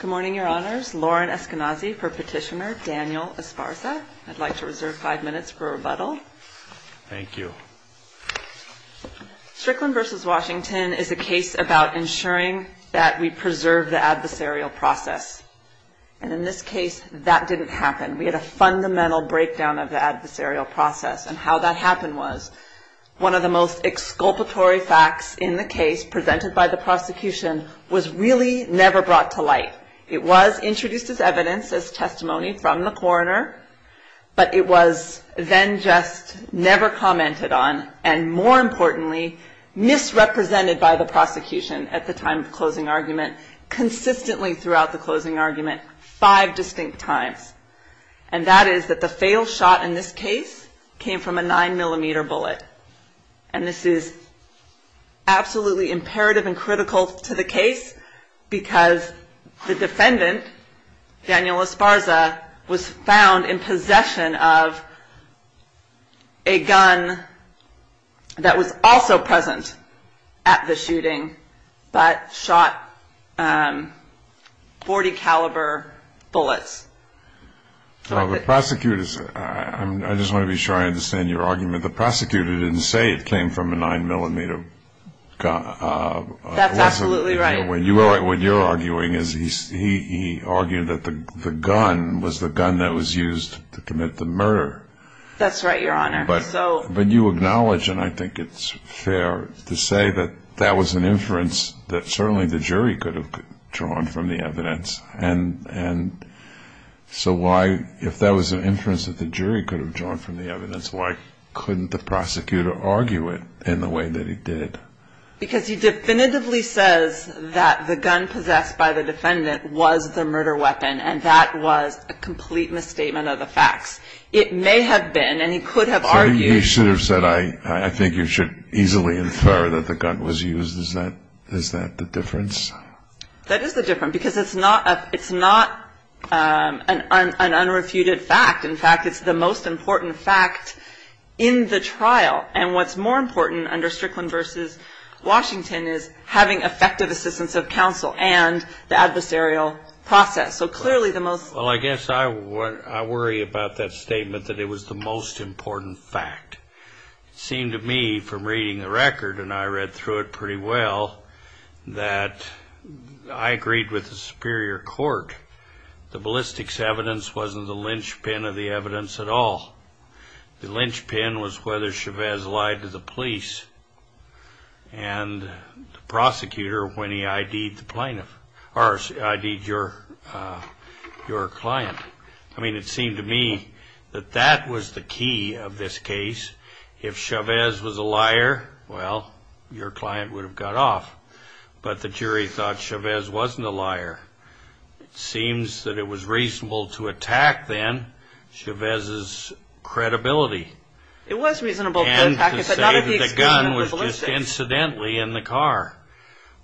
Good morning, Your Honors. Lauren Eskenazi for Petitioner Daniel Esparza. I'd like to reserve five minutes for rebuttal. Thank you. Strickland v. Washington is a case about ensuring that we preserve the adversarial process. And in this case, that didn't happen. We had a fundamental breakdown of the adversarial process, and how that happened was one of the most exculpatory facts in the case presented by the prosecution was really never brought to light. It was introduced as evidence, as testimony from the coroner, but it was then just never commented on, and more importantly, misrepresented by the prosecution at the time of closing argument, consistently throughout the closing argument, five distinct times. And that is that the failed shot in this case came from a 9mm bullet. And this is absolutely imperative and critical to the case, because the defendant, Daniel Esparza, was found in possession of a gun that was also present at the shooting, but shot... 40 caliber bullets. Well, the prosecutor... I just want to be sure I understand your argument. The prosecutor didn't say it came from a 9mm... That's absolutely right. What you're arguing is he argued that the gun was the gun that was used to commit the murder. That's right, Your Honor. But you acknowledge, and I think it's fair to say that that was an inference that certainly the jury could have drawn from the evidence. And so why, if that was an inference that the jury could have drawn from the evidence, why couldn't the prosecutor argue it in the way that he did? Because he definitively says that the gun possessed by the defendant was the murder weapon, and that was a complete misstatement of the facts. It may have been, and he could have argued... So you should have said, I think you should easily infer that the gun was used. Is that the difference? That is the difference, because it's not an unrefuted fact. In fact, it's the most important fact in the trial. And what's more important under Strickland v. Washington is having effective assistance of counsel and the adversarial process. So clearly the most... Well, I guess I worry about that statement that it was the most important fact. It seemed to me from reading the record, and I read through it pretty well, that I agreed with the superior court. The ballistics evidence wasn't the linchpin of the evidence at all. The linchpin was whether Chavez lied to the police and the prosecutor when he ID'd your client. I mean, it seemed to me that that was the key of this case. If Chavez was a liar, well, your client would have got off. But the jury thought Chavez wasn't a liar. It seems that it was reasonable to attack then Chavez's credibility. It was reasonable to attack. And to say that the gun was just incidentally in the car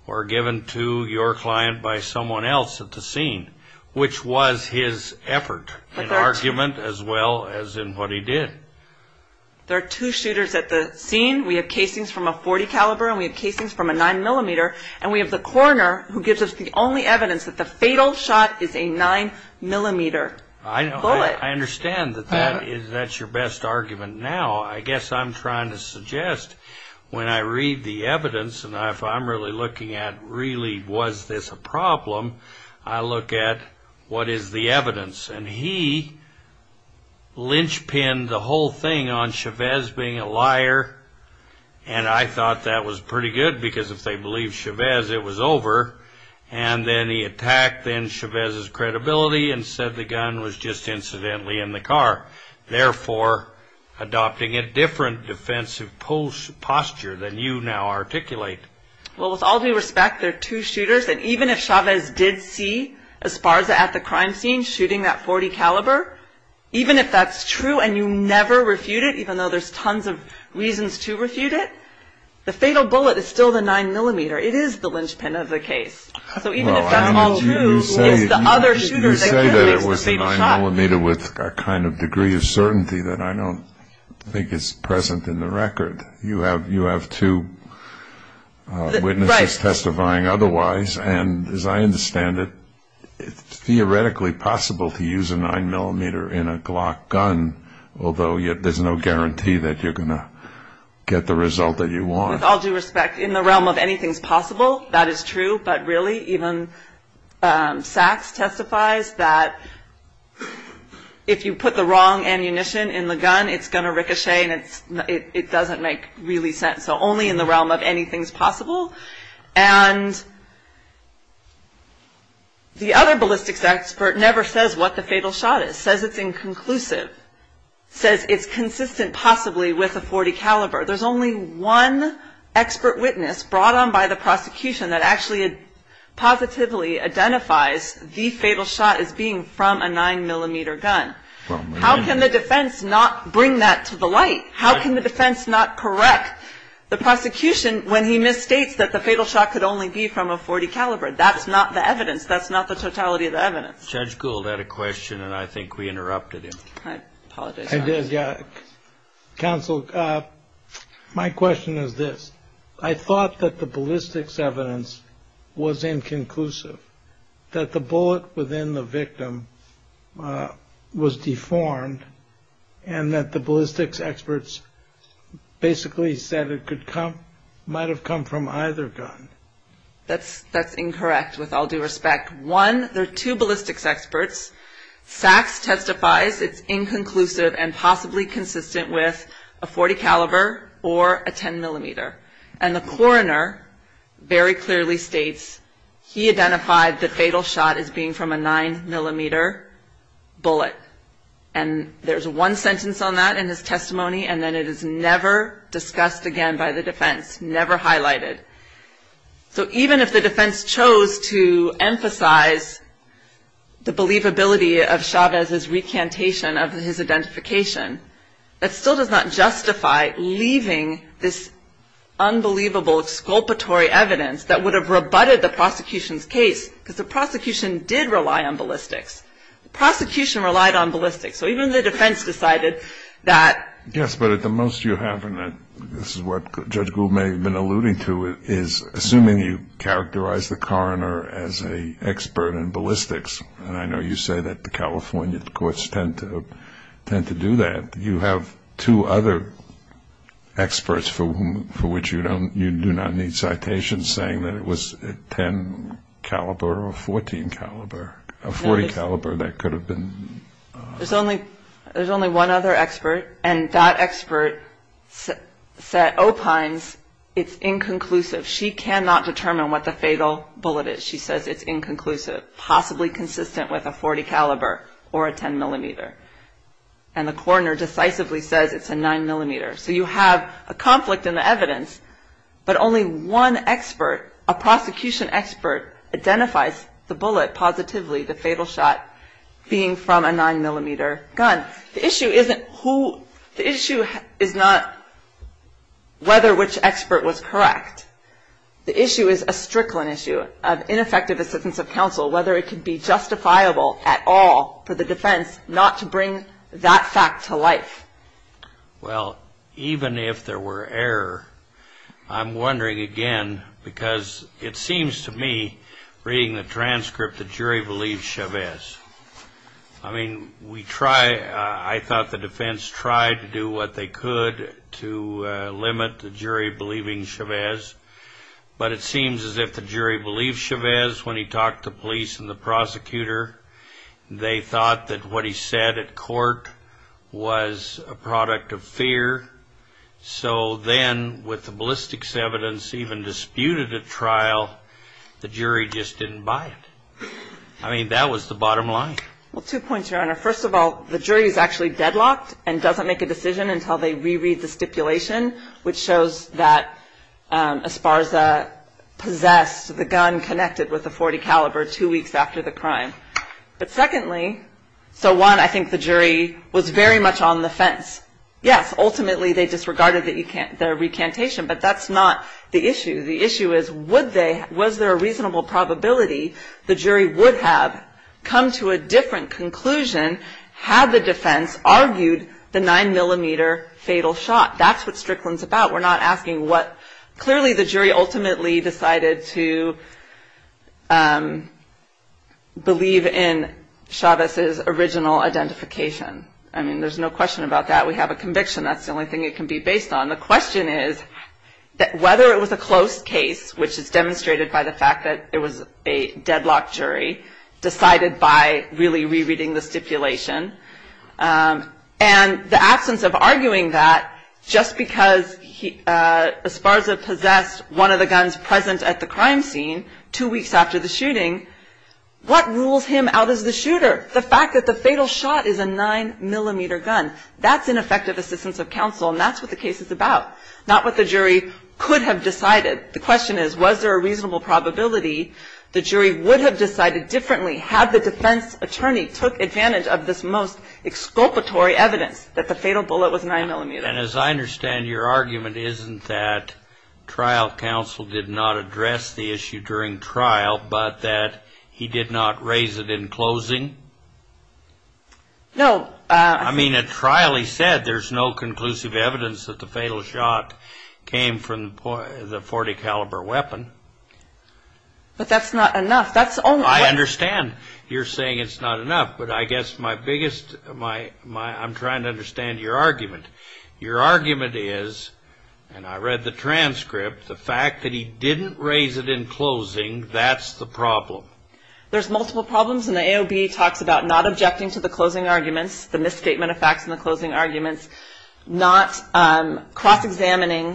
or given to your client by someone else at the scene, which was his effort in argument as well as in what he did. There are two shooters at the scene. We have casings from a .40 caliber and we have casings from a 9mm. And we have the coroner who gives us the only evidence that the fatal shot is a 9mm bullet. I understand that that's your best argument now. I guess I'm trying to suggest when I read the evidence, and if I'm really looking at really was this a problem, I look at what is the evidence. And he linchpinned the whole thing on Chavez being a liar. And I thought that was pretty good because if they believed Chavez, it was over. And then he attacked then Chavez's credibility and said the gun was just incidentally in the car, therefore adopting a different defensive posture than you now articulate. Well, with all due respect, there are two shooters. And even if Chavez did see Esparza at the crime scene shooting that .40 caliber, even if that's true and you never refute it, even though there's tons of reasons to refute it, the fatal bullet is still the 9mm. It is the linchpin of the case. So even if that's all true, it's the other shooter that gives the fatal shot. You say that it was the 9mm with a kind of degree of certainty that I don't think is present in the record. You have two witnesses testifying otherwise. And as I understand it, it's theoretically possible to use a 9mm in a Glock gun, although there's no guarantee that you're going to get the result that you want. With all due respect, in the realm of anything's possible, that is true. But really, even Sachs testifies that if you put the wrong ammunition in the gun, it's going to ricochet and it doesn't make really sense. So only in the realm of anything's possible. And the other ballistics expert never says what the fatal shot is, says it's inconclusive, says it's consistent possibly with a .40 caliber. There's only one expert witness brought on by the prosecution that actually positively identifies the fatal shot as being from a 9mm gun. How can the defense not bring that to the light? How can the defense not correct the prosecution when he misstates that the fatal shot could only be from a .40 caliber? That's not the evidence. That's not the totality of the evidence. Judge Gould had a question and I think we interrupted him. I apologize. Counsel, my question is this. I thought that the ballistics evidence was inconclusive, that the bullet within the victim was deformed and that the ballistics experts basically said it might have come from either gun. That's incorrect with all due respect. One, there are two ballistics experts. Sachs testifies it's inconclusive and possibly consistent with a .40 caliber or a 10mm. And the coroner very clearly states he identified the fatal shot as being from a 9mm bullet. And there's one sentence on that in his testimony and then it is never discussed again by the defense, never highlighted. So even if the defense chose to emphasize the believability of Chavez's recantation of his identification, that still does not justify leaving this unbelievable exculpatory evidence that would have rebutted the prosecution's case because the prosecution did rely on ballistics. The prosecution relied on ballistics. So even the defense decided that. Yes, but the most you have, and this is what Judge Gould may have been alluding to, is assuming you characterize the coroner as an expert in ballistics, and I know you say that the California courts tend to do that, you have two other experts for which you do not need citations saying that it was a 10 caliber or a 14 caliber, a 40 caliber that could have been. There's only one other expert, and that expert said opines it's inconclusive. She cannot determine what the fatal bullet is. She says it's inconclusive, possibly consistent with a 40 caliber or a 10 millimeter, and the coroner decisively says it's a 9 millimeter. So you have a conflict in the evidence, but only one expert, a prosecution expert, identifies the bullet positively, the fatal shot, being from a 9 millimeter gun. The issue is not whether which expert was correct. The issue is a strickland issue of ineffective assistance of counsel, whether it could be justifiable at all for the defense not to bring that fact to life. Well, even if there were error, I'm wondering again, because it seems to me reading the transcript the jury believed Chavez. I mean, I thought the defense tried to do what they could to limit the jury believing Chavez, but it seems as if the jury believed Chavez when he talked to police and the prosecutor. They thought that what he said at court was a product of fear, so then with the ballistics evidence even disputed at trial, the jury just didn't buy it. I mean, that was the bottom line. Well, two points, Your Honor. First of all, the jury is actually deadlocked and doesn't make a decision until they reread the stipulation, which shows that Esparza possessed the gun connected with a .40 caliber two weeks after the crime. But secondly, so one, I think the jury was very much on the fence. Yes, ultimately they disregarded the recantation, but that's not the issue. The issue is was there a reasonable probability the jury would have come to a different conclusion had the defense argued the nine millimeter fatal shot. That's what Strickland's about. We're not asking what clearly the jury ultimately decided to believe in Chavez's original identification. I mean, there's no question about that. We have a conviction. That's the only thing it can be based on. And the question is whether it was a close case, which is demonstrated by the fact that it was a deadlocked jury decided by really rereading the stipulation, and the absence of arguing that just because Esparza possessed one of the guns present at the crime scene two weeks after the shooting, what rules him out as the shooter? The fact that the fatal shot is a nine millimeter gun, that's ineffective assistance of counsel, and that's what the case is about, not what the jury could have decided. The question is was there a reasonable probability the jury would have decided differently had the defense attorney took advantage of this most exculpatory evidence that the fatal bullet was a nine millimeter. And as I understand, your argument isn't that trial counsel did not address the issue during trial, but that he did not raise it in closing? No. I mean, at trial he said there's no conclusive evidence that the fatal shot came from the .40 caliber weapon. But that's not enough. I understand you're saying it's not enough, but I guess my biggest, I'm trying to understand your argument. Your argument is, and I read the transcript, the fact that he didn't raise it in closing, that's the problem. There's multiple problems, and the AOB talks about not objecting to the closing arguments, the misstatement of facts in the closing arguments, not cross-examining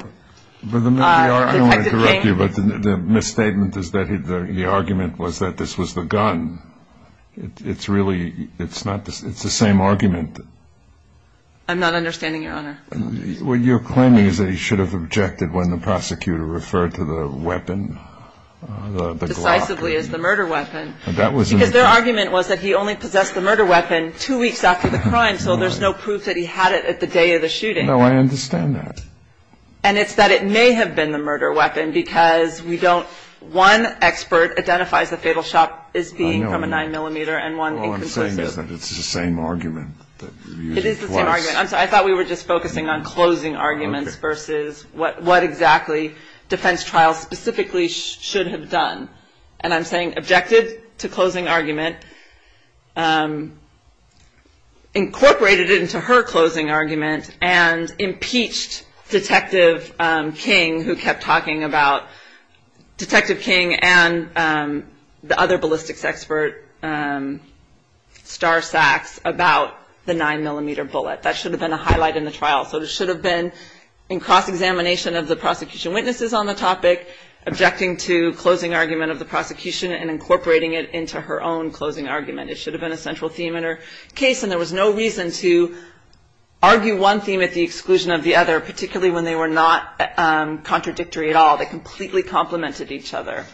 the detected thing. I don't want to interrupt you, but the misstatement is that the argument was that this was the gun. It's really, it's the same argument. I'm not understanding, Your Honor. What you're claiming is that he should have objected when the prosecutor referred to the weapon, the Glock. The murder weapon. Because their argument was that he only possessed the murder weapon two weeks after the crime, so there's no proof that he had it at the day of the shooting. No, I understand that. And it's that it may have been the murder weapon because we don't, one expert identifies the fatal shot as being from a 9mm and one inconclusive. All I'm saying is that it's the same argument. It is the same argument. I'm sorry, I thought we were just focusing on closing arguments versus what exactly defense trials specifically should have done. And I'm saying objected to closing argument, incorporated it into her closing argument, and impeached Detective King, who kept talking about Detective King and the other ballistics expert, Star Sacks, about the 9mm bullet. That should have been a highlight in the trial. So it should have been in cross-examination of the prosecution witnesses on the topic, objecting to closing argument of the prosecution and incorporating it into her own closing argument. It should have been a central theme in her case, and there was no reason to argue one theme at the exclusion of the other, particularly when they were not contradictory at all. They completely complemented each other.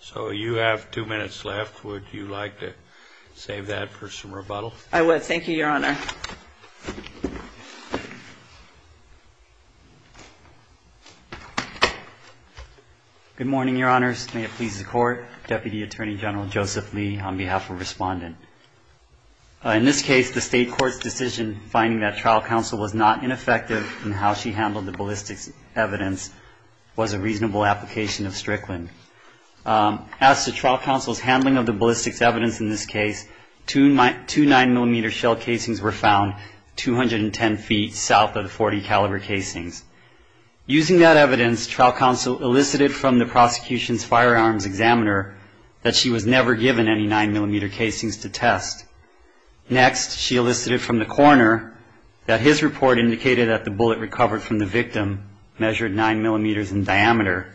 So you have two minutes left. Would you like to save that for some rebuttal? I would. Thank you, Your Honor. Good morning, Your Honors. May it please the Court. Deputy Attorney General Joseph Lee on behalf of Respondent. In this case, the State Court's decision finding that trial counsel was not ineffective in how she handled the ballistics evidence was a reasonable application of Strickland. As to trial counsel's handling of the ballistics evidence in this case, two 9mm shell casings were found 210 feet south of the .40 caliber casings. Using that evidence, trial counsel elicited from the prosecution's firearms examiner that she was never given any 9mm casings to test. Next, she elicited from the coroner that his report indicated that the bullet recovered from the victim measured 9mm in diameter.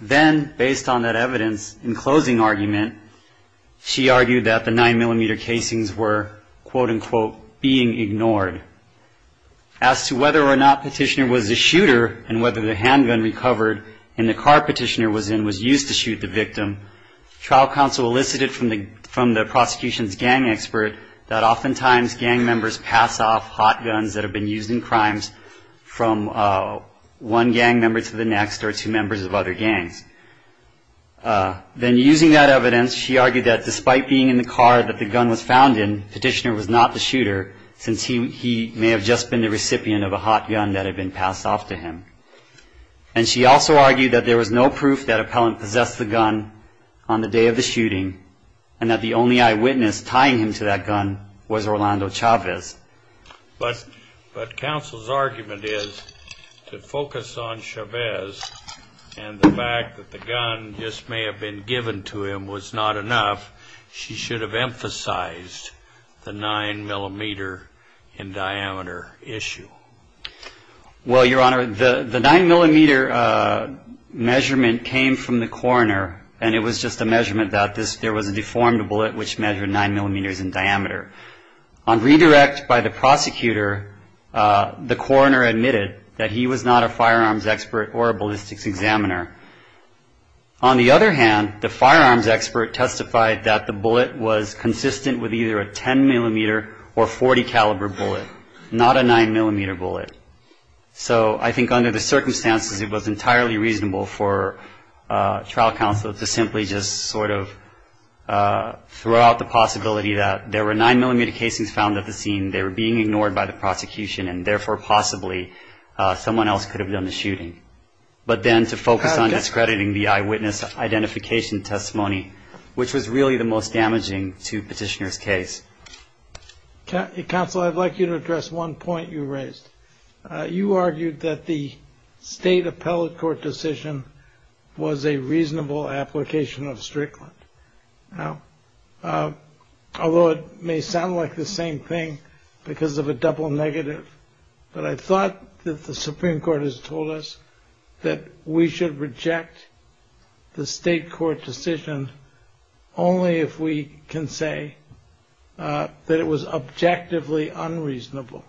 Then, based on that evidence, in closing argument, she argued that the 9mm casings were, quote-unquote, being ignored. As to whether or not Petitioner was a shooter and whether the handgun recovered and the car Petitioner was in was used to shoot the victim, trial counsel elicited from the prosecution's gang expert that oftentimes gang members pass off hot guns that have been used in crimes from one gang member to the next or two members of other gangs. Then, using that evidence, she argued that despite being in the car that the gun was found in, Petitioner was not the shooter since he may have just been the recipient of a hot gun that had been passed off to him. And she also argued that there was no proof that appellant possessed the gun on the day of the shooting and that the only eyewitness tying him to that gun was Orlando Chavez. But counsel's argument is to focus on Chavez and the fact that the gun just may have been given to him was not enough, she should have emphasized the 9mm in diameter issue. Well, Your Honor, the 9mm measurement came from the coroner and it was just a measurement that there was a deformed bullet which measured 9mm in diameter. On redirect by the prosecutor, the coroner admitted that he was not a firearms expert or a ballistics examiner. On the other hand, the firearms expert testified that the bullet was consistent with either a 10mm or 40 caliber bullet, not a 9mm bullet. So I think under the circumstances it was entirely reasonable for trial counsel to simply just sort of throw out the possibility that there were 9mm casings found at the scene, they were being ignored by the prosecution and therefore possibly someone else could have done the shooting. But then to focus on discrediting the eyewitness identification testimony, which was really the most damaging to petitioner's case. Counsel, I'd like you to address one point you raised. You argued that the state appellate court decision was a reasonable application of Strickland. Now, although it may sound like the same thing because of a double negative, but I thought that the Supreme Court has told us that we should reject the state court decision only if we can say that it was objectively unreasonable.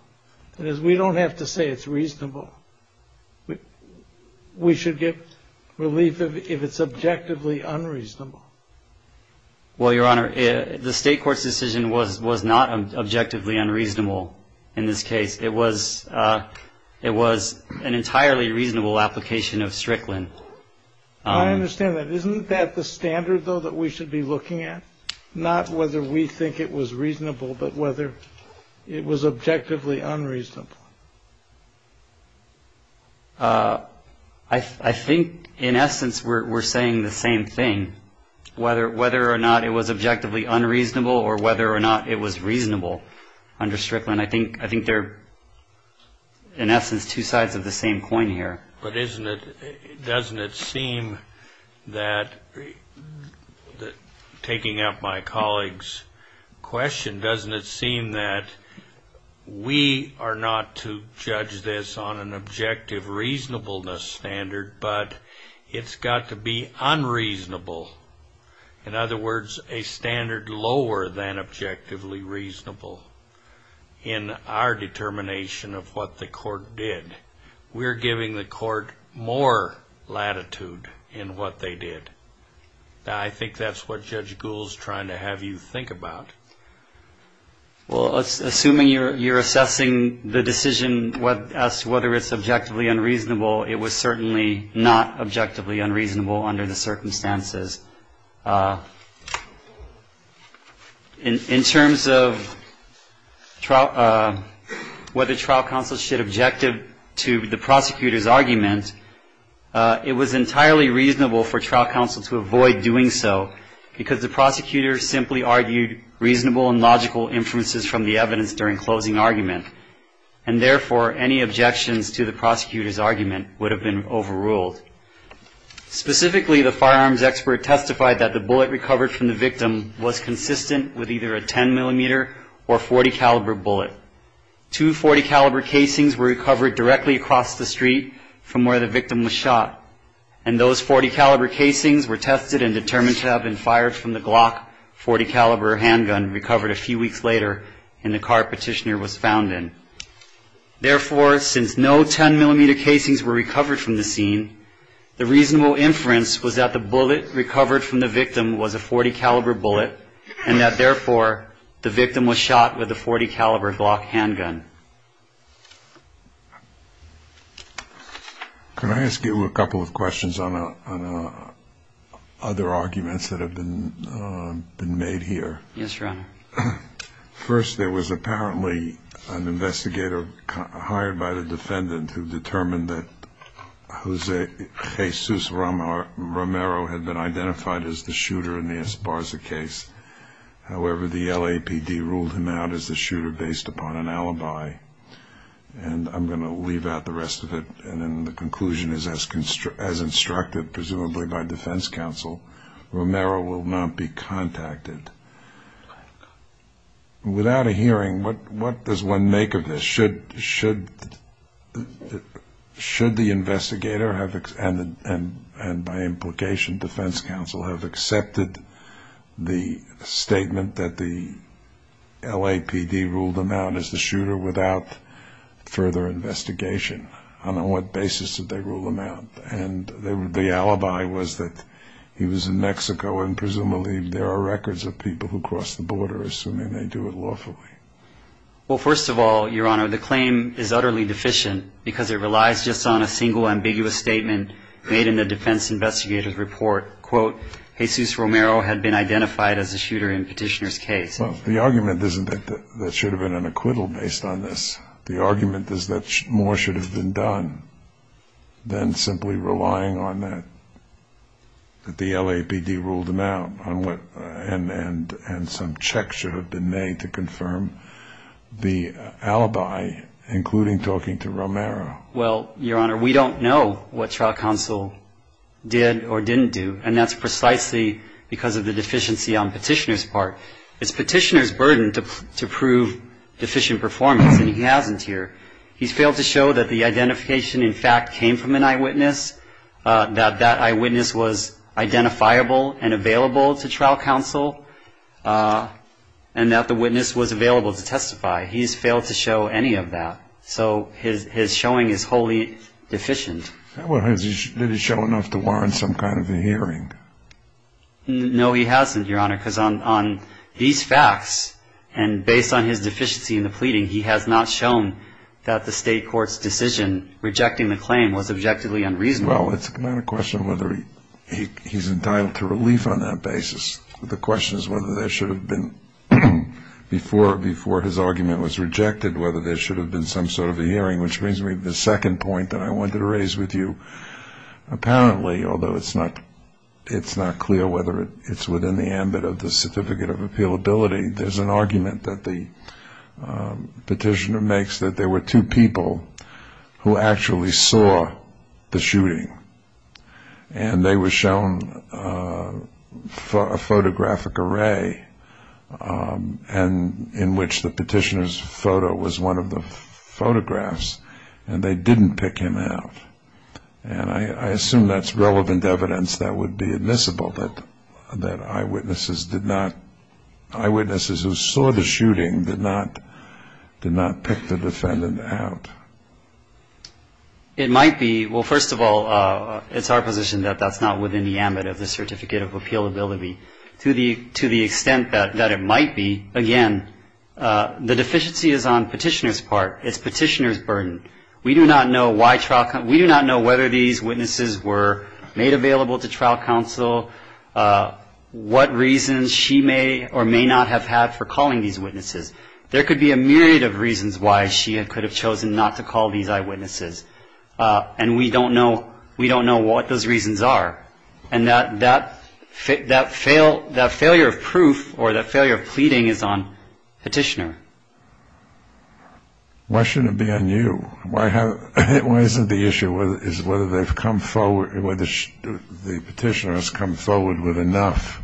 That is, we don't have to say it's reasonable. We should get relief if it's objectively unreasonable. Well, Your Honor, the state court's decision was not objectively unreasonable in this case. It was an entirely reasonable application of Strickland. I understand that. Isn't that the standard, though, that we should be looking at? Not whether we think it was reasonable, but whether it was objectively unreasonable. I think, in essence, we're saying the same thing, whether or not it was objectively unreasonable or whether or not it was reasonable under Strickland. I think there are, in essence, two sides of the same coin here. But doesn't it seem that, taking up my colleague's question, doesn't it seem that we are not to judge this on an objective reasonableness standard, but it's got to be unreasonable, in other words, a standard lower than objectively reasonable in our determination of what the court did. We're giving the court more latitude in what they did. I think that's what Judge Gould's trying to have you think about. Well, assuming you're assessing the decision as to whether it's objectively unreasonable, it was certainly not objectively unreasonable under the circumstances. In terms of whether trial counsel should object to the prosecutor's argument, it was entirely reasonable for trial counsel to avoid doing so, because the prosecutor simply argued reasonable and logical inferences from the evidence during closing argument, and therefore any objections to the prosecutor's argument would have been overruled. Specifically, the firearms expert testified that the bullet recovered from the victim was consistent with either a 10-millimeter or .40-caliber bullet. Two .40-caliber casings were recovered directly across the street from where the victim was shot, and those .40-caliber casings were tested and determined to have been fired from the Glock .40-caliber handgun recovered a few weeks later in the car Petitioner was found in. Therefore, since no 10-millimeter casings were recovered from the scene, the reasonable inference was that the bullet recovered from the victim was a .40-caliber bullet and that, therefore, the victim was shot with a .40-caliber Glock handgun. Can I ask you a couple of questions on other arguments that have been made here? Yes, Your Honor. First, there was apparently an investigator hired by the defendant who determined that Jesus Romero had been identified as the shooter in the Esparza case. However, the LAPD ruled him out as the shooter based upon an alibi, and I'm going to leave out the rest of it. The conclusion is, as instructed presumably by defense counsel, Romero will not be contacted. Without a hearing, what does one make of this? Should the investigator and, by implication, defense counsel, have accepted the statement that the LAPD ruled him out as the shooter without further investigation? On what basis did they rule him out? And the alibi was that he was in Mexico, and presumably there are records of people who crossed the border assuming they do it lawfully. Well, first of all, Your Honor, the claim is utterly deficient because it relies just on a single ambiguous statement made in the defense investigator's report. Quote, Jesus Romero had been identified as the shooter in Petitioner's case. Well, the argument isn't that there should have been an acquittal based on this. The argument is that more should have been done than simply relying on that, that the LAPD ruled him out and some checks should have been made to confirm the alibi, including talking to Romero. Well, Your Honor, we don't know what trial counsel did or didn't do, and that's precisely because of the deficiency on Petitioner's part. It's Petitioner's burden to prove deficient performance, and he hasn't here. He's failed to show that the identification, in fact, came from an eyewitness, that that eyewitness was identifiable and available to trial counsel and that the witness was available to testify. He's failed to show any of that. So his showing is wholly deficient. Did he show enough to warrant some kind of a hearing? No, he hasn't, Your Honor, because on these facts and based on his deficiency in the pleading, he has not shown that the state court's decision rejecting the claim was objectively unreasonable. Well, it's not a question of whether he's entitled to relief on that basis. The question is whether there should have been, before his argument was rejected, whether there should have been some sort of a hearing, which brings me to the second point that I wanted to raise with you. Apparently, although it's not clear whether it's within the ambit of the certificate of appealability, there's an argument that the petitioner makes that there were two people who actually saw the shooting and they were shown a photographic array in which the petitioner's photo was one of the photographs and they didn't pick him out. And I assume that's relevant evidence that would be admissible, that eyewitnesses who saw the shooting did not pick the defendant out. It might be. Well, first of all, it's our position that that's not within the ambit of the certificate of appealability. To the extent that it might be, again, the deficiency is on petitioner's part. It's petitioner's burden. We do not know whether these witnesses were made available to trial counsel, what reasons she may or may not have had for calling these witnesses. There could be a myriad of reasons why she could have chosen not to call these eyewitnesses, and we don't know what those reasons are. And that failure of proof or that failure of pleading is on petitioner. Why shouldn't it be on you? Why isn't the issue whether they've come forward, whether the petitioner has come forward with enough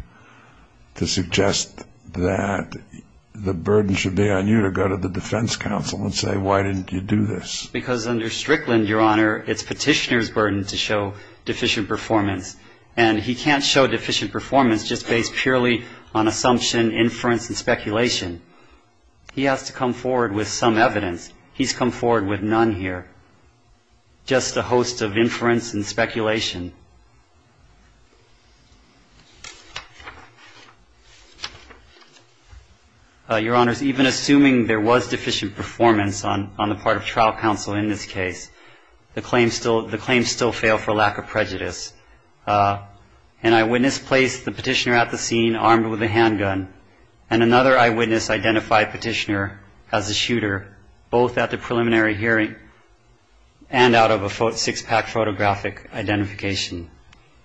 to suggest that the burden should be on you to go to the defense counsel and say, why didn't you do this? Because under Strickland, Your Honor, it's petitioner's burden to show deficient performance, and he can't show deficient performance just based purely on assumption, inference, and speculation. He has to come forward with some evidence. He's come forward with none here, just a host of inference and speculation. Your Honors, even assuming there was deficient performance on the part of trial counsel in this case, the claims still fail for lack of prejudice. An eyewitness placed the petitioner at the scene armed with a handgun, and another eyewitness identified petitioner as a shooter both at the preliminary hearing and out of a six-pack photographic identification.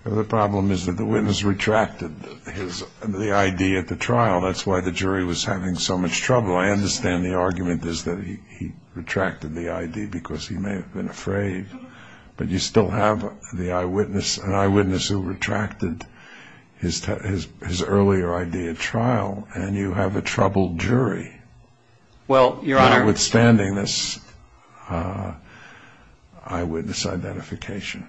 The problem is that the witness retracted the I.D. at the trial. That's why the jury was having so much trouble. Well, I understand the argument is that he retracted the I.D. because he may have been afraid, but you still have the eyewitness, an eyewitness who retracted his earlier I.D. at trial, and you have a troubled jury notwithstanding this eyewitness identification.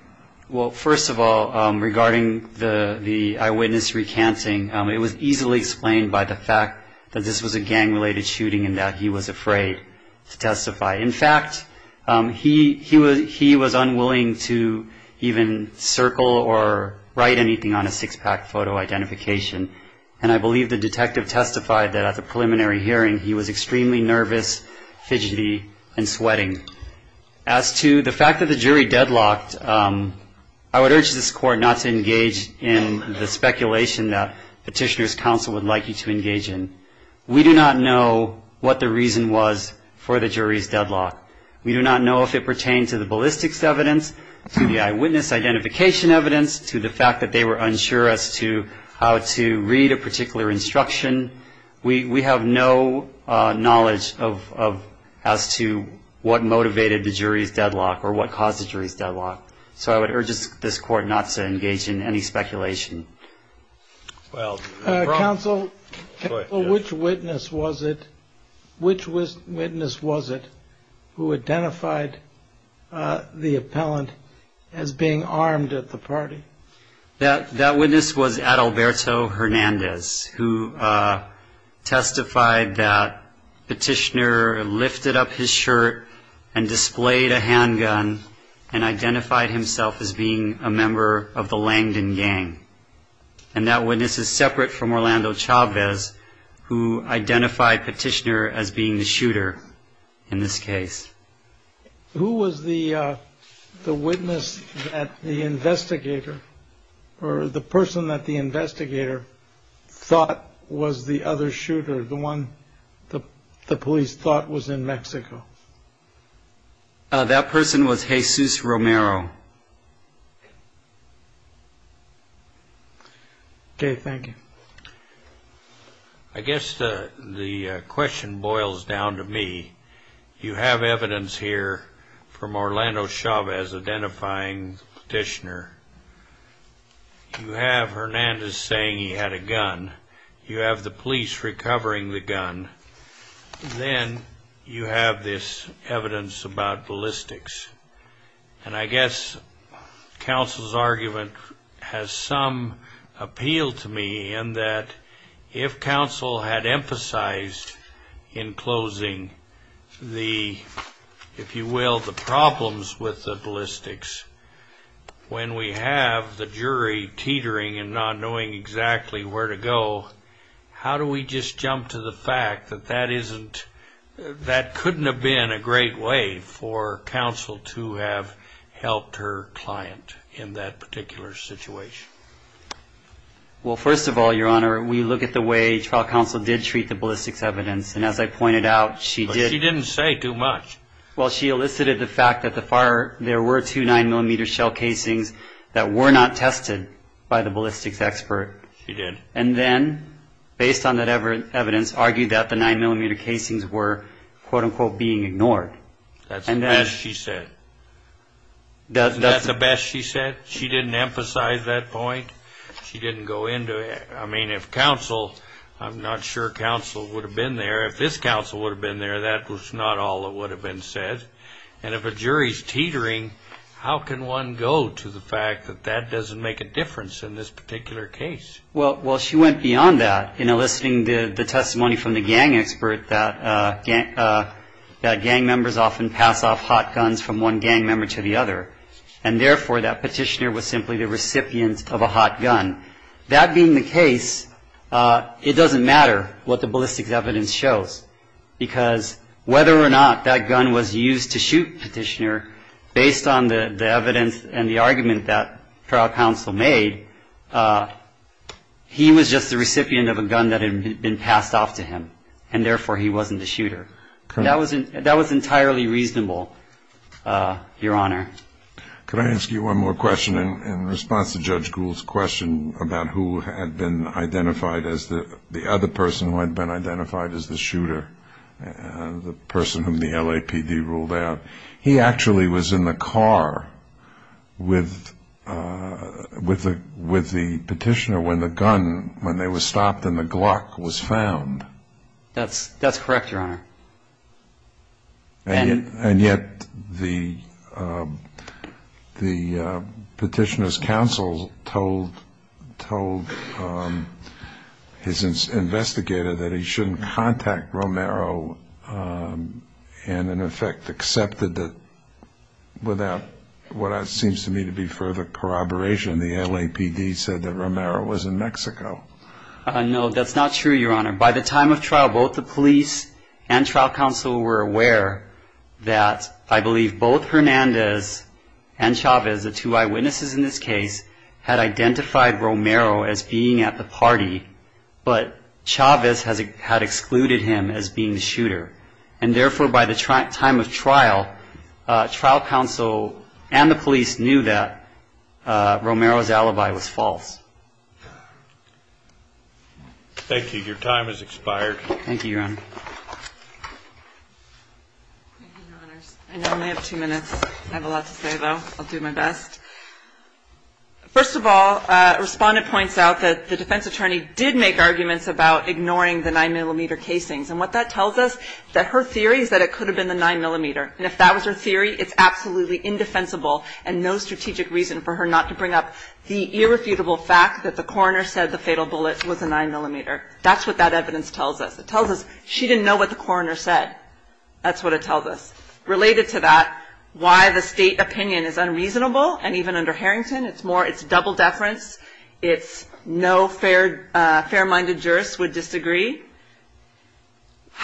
Well, first of all, regarding the eyewitness recanting, it was easily explained by the fact that this was a gang-related shooting and that he was afraid to testify. In fact, he was unwilling to even circle or write anything on a six-pack photo identification, and I believe the detective testified that at the preliminary hearing he was extremely nervous, fidgety, and sweating. As to the fact that the jury deadlocked, I would urge this Court not to engage in the speculation that Petitioner's Counsel would like you to engage in. We do not know what the reason was for the jury's deadlock. We do not know if it pertained to the ballistics evidence, to the eyewitness identification evidence, to the fact that they were unsure as to how to read a particular instruction. We have no knowledge as to what motivated the jury's deadlock or what caused the jury's deadlock, so I would urge this Court not to engage in any speculation. Counsel, which witness was it who identified the appellant as being armed at the party? That witness was Adalberto Hernandez, who testified that Petitioner lifted up his shirt and displayed a handgun and identified himself as being a member of the Langdon gang. And that witness is separate from Orlando Chavez, who identified Petitioner as being the shooter in this case. Who was the witness that the investigator or the person that the investigator thought was the other shooter, the one the police thought was in Mexico? That person was Jesus Romero. Okay, thank you. I guess the question boils down to me. You have evidence here from Orlando Chavez identifying Petitioner. You have Hernandez saying he had a gun. You have the police recovering the gun. Then you have this evidence about ballistics. And I guess counsel's argument has some appeal to me in that if counsel had emphasized in closing the, if you will, the problems with the ballistics, when we have the jury teetering and not knowing exactly where to go, how do we just jump to the fact that that couldn't have been a great way for counsel to have helped her client in that particular situation? Well, first of all, Your Honor, we look at the way trial counsel did treat the ballistics evidence. And as I pointed out, she did. But she didn't say too much. Well, she elicited the fact that there were two 9-millimeter shell casings that were not tested by the ballistics expert. She did. And then, based on that evidence, argued that the 9-millimeter casings were, quote-unquote, being ignored. That's the best she said. Isn't that the best she said? She didn't emphasize that point. She didn't go into it. I mean, if counsel, I'm not sure counsel would have been there. If this counsel would have been there, that was not all that would have been said. And if a jury's teetering, how can one go to the fact that that doesn't make a difference in this particular case? Well, she went beyond that in eliciting the testimony from the gang expert that gang members often pass off hot guns from one gang member to the other. And, therefore, that petitioner was simply the recipient of a hot gun. That being the case, it doesn't matter what the ballistics evidence shows, because whether or not that gun was used to shoot the petitioner, based on the evidence and the argument that trial counsel made, he was just the recipient of a gun that had been passed off to him. And, therefore, he wasn't the shooter. That was entirely reasonable, Your Honor. Could I ask you one more question in response to Judge Gould's question about who had been identified as the other person who had been identified as the shooter, the person whom the LAPD ruled out? He actually was in the car with the petitioner when the gun, when they were stopped and the Glock was found. That's correct, Your Honor. And yet the petitioner's counsel told his investigator that he shouldn't contact Romero and, in effect, accepted it without what seems to me to be further corroboration. The LAPD said that Romero was in Mexico. No, that's not true, Your Honor. By the time of trial, both the police and trial counsel were aware that, I believe, both Hernandez and Chavez, the two eyewitnesses in this case, had identified Romero as being at the party, but Chavez had excluded him as being the shooter. And, therefore, by the time of trial, trial counsel and the police knew that Romero's alibi was false. Thank you. Your time has expired. Thank you, Your Honor. Thank you, Your Honors. I know I only have two minutes. I have a lot to say, though. I'll do my best. First of all, Respondent points out that the defense attorney did make arguments about ignoring the 9-millimeter casings. And what that tells us, that her theory is that it could have been the 9-millimeter. And if that was her theory, it's absolutely indefensible and no strategic reason for her not to bring up the irrefutable fact that the coroner said the fatal bullet was a 9-millimeter. That's what that evidence tells us. It tells us she didn't know what the coroner said. That's what it tells us. Related to that, why the state opinion is unreasonable, and even under Harrington, it's double deference. It's no fair-minded jurist would disagree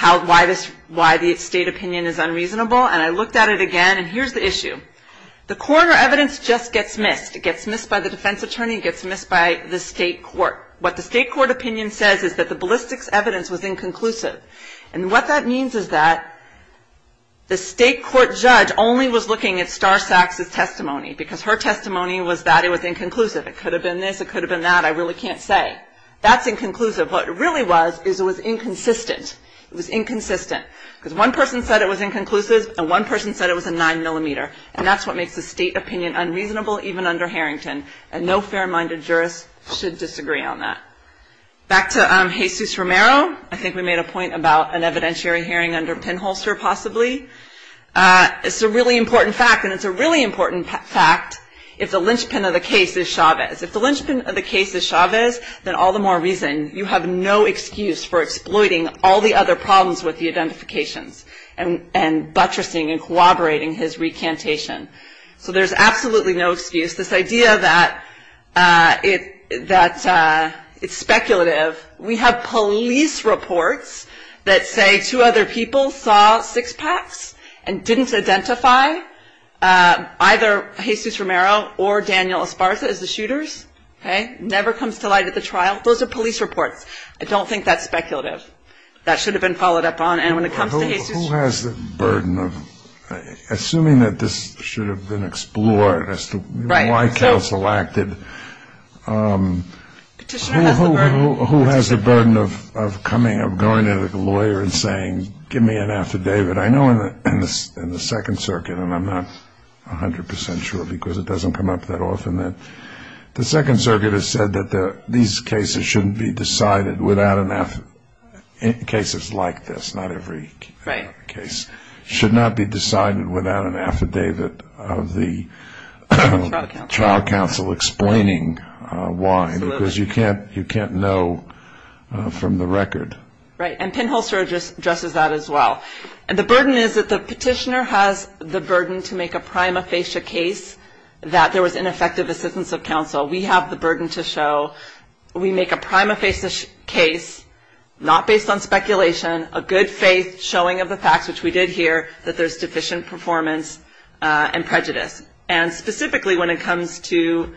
why the state opinion is unreasonable. And I looked at it again, and here's the issue. The coroner evidence just gets missed. It gets missed by the defense attorney. It gets missed by the state court. What the state court opinion says is that the ballistics evidence was inconclusive. And what that means is that the state court judge only was looking at Star Sachs's testimony because her testimony was that it was inconclusive. It could have been this. It could have been that. I really can't say. That's inconclusive. What it really was is it was inconsistent. It was inconsistent because one person said it was inconclusive, and one person said it was a 9-millimeter. And that's what makes the state opinion unreasonable, even under Harrington. And no fair-minded jurist should disagree on that. Back to Jesus Romero. I think we made a point about an evidentiary hearing under Penholster, possibly. It's a really important fact, and it's a really important fact if the linchpin of the case is Chavez. If the linchpin of the case is Chavez, then all the more reason. You have no excuse for exploiting all the other problems with the identifications and buttressing and corroborating his recantation. So there's absolutely no excuse. This idea that it's speculative. We have police reports that say two other people saw six-packs and didn't identify either Jesus Romero or Daniel Esparza as the shooters. It never comes to light at the trial. Those are police reports. I don't think that's speculative. That should have been followed up on. And when it comes to Jesus Romero. Who has the burden of assuming that this should have been explored as to why counsel acted? Petitioner has the burden. Who has the burden of coming, of going to the lawyer and saying, give me an affidavit? I know in the Second Circuit, and I'm not 100 percent sure because it doesn't come up that often, the Second Circuit has said that these cases shouldn't be decided without an affidavit. Cases like this, not every case, should not be decided without an affidavit of the trial counsel explaining why. Because you can't know from the record. Right. And Penholzer addresses that as well. The burden is that the petitioner has the burden to make a prima facie case that there was ineffective assistance of counsel. We have the burden to show. We make a prima facie case, not based on speculation, a good faith showing of the facts, which we did here, that there's deficient performance and prejudice. And specifically when it comes to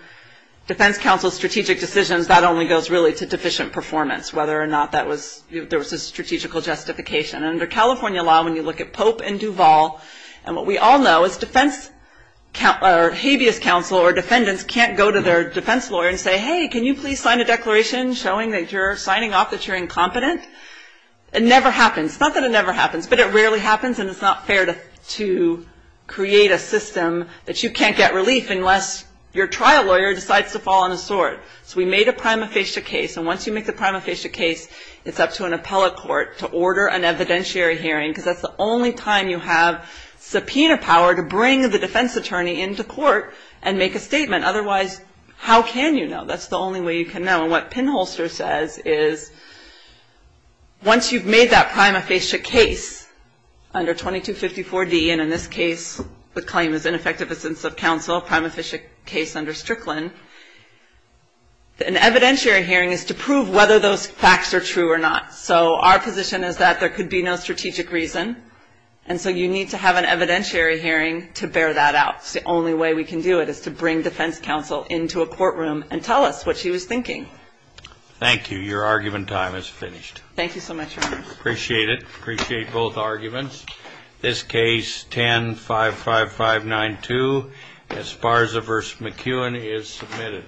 defense counsel's strategic decisions, that only goes really to deficient performance, whether or not there was a strategical justification. And under California law, when you look at Pope and Duvall, and what we all know is habeas counsel or defendants can't go to their defense lawyer and say, hey, can you please sign a declaration showing that you're signing off that you're incompetent? It never happens. Not that it never happens, but it rarely happens, and it's not fair to create a system that you can't get relief unless your trial lawyer decides to fall on a sword. So we made a prima facie case, and once you make the prima facie case, it's up to an appellate court to order an evidentiary hearing, because that's the only time you have subpoena power to bring the defense attorney into court and make a statement. Otherwise, how can you know? That's the only way you can know. And what Pinholster says is once you've made that prima facie case under 2254D, and in this case the claim is ineffective assistance of counsel, a prima facie case under Strickland, an evidentiary hearing is to prove whether those facts are true or not. So our position is that there could be no strategic reason, and so you need to have an evidentiary hearing to bear that out. It's the only way we can do it is to bring defense counsel into a courtroom and tell us what she was thinking. Thank you. Your argument time is finished. Thank you so much, Your Honor. Appreciate it. Appreciate both arguments. This case, 10-55592, Esparza v. McKeown, is submitted.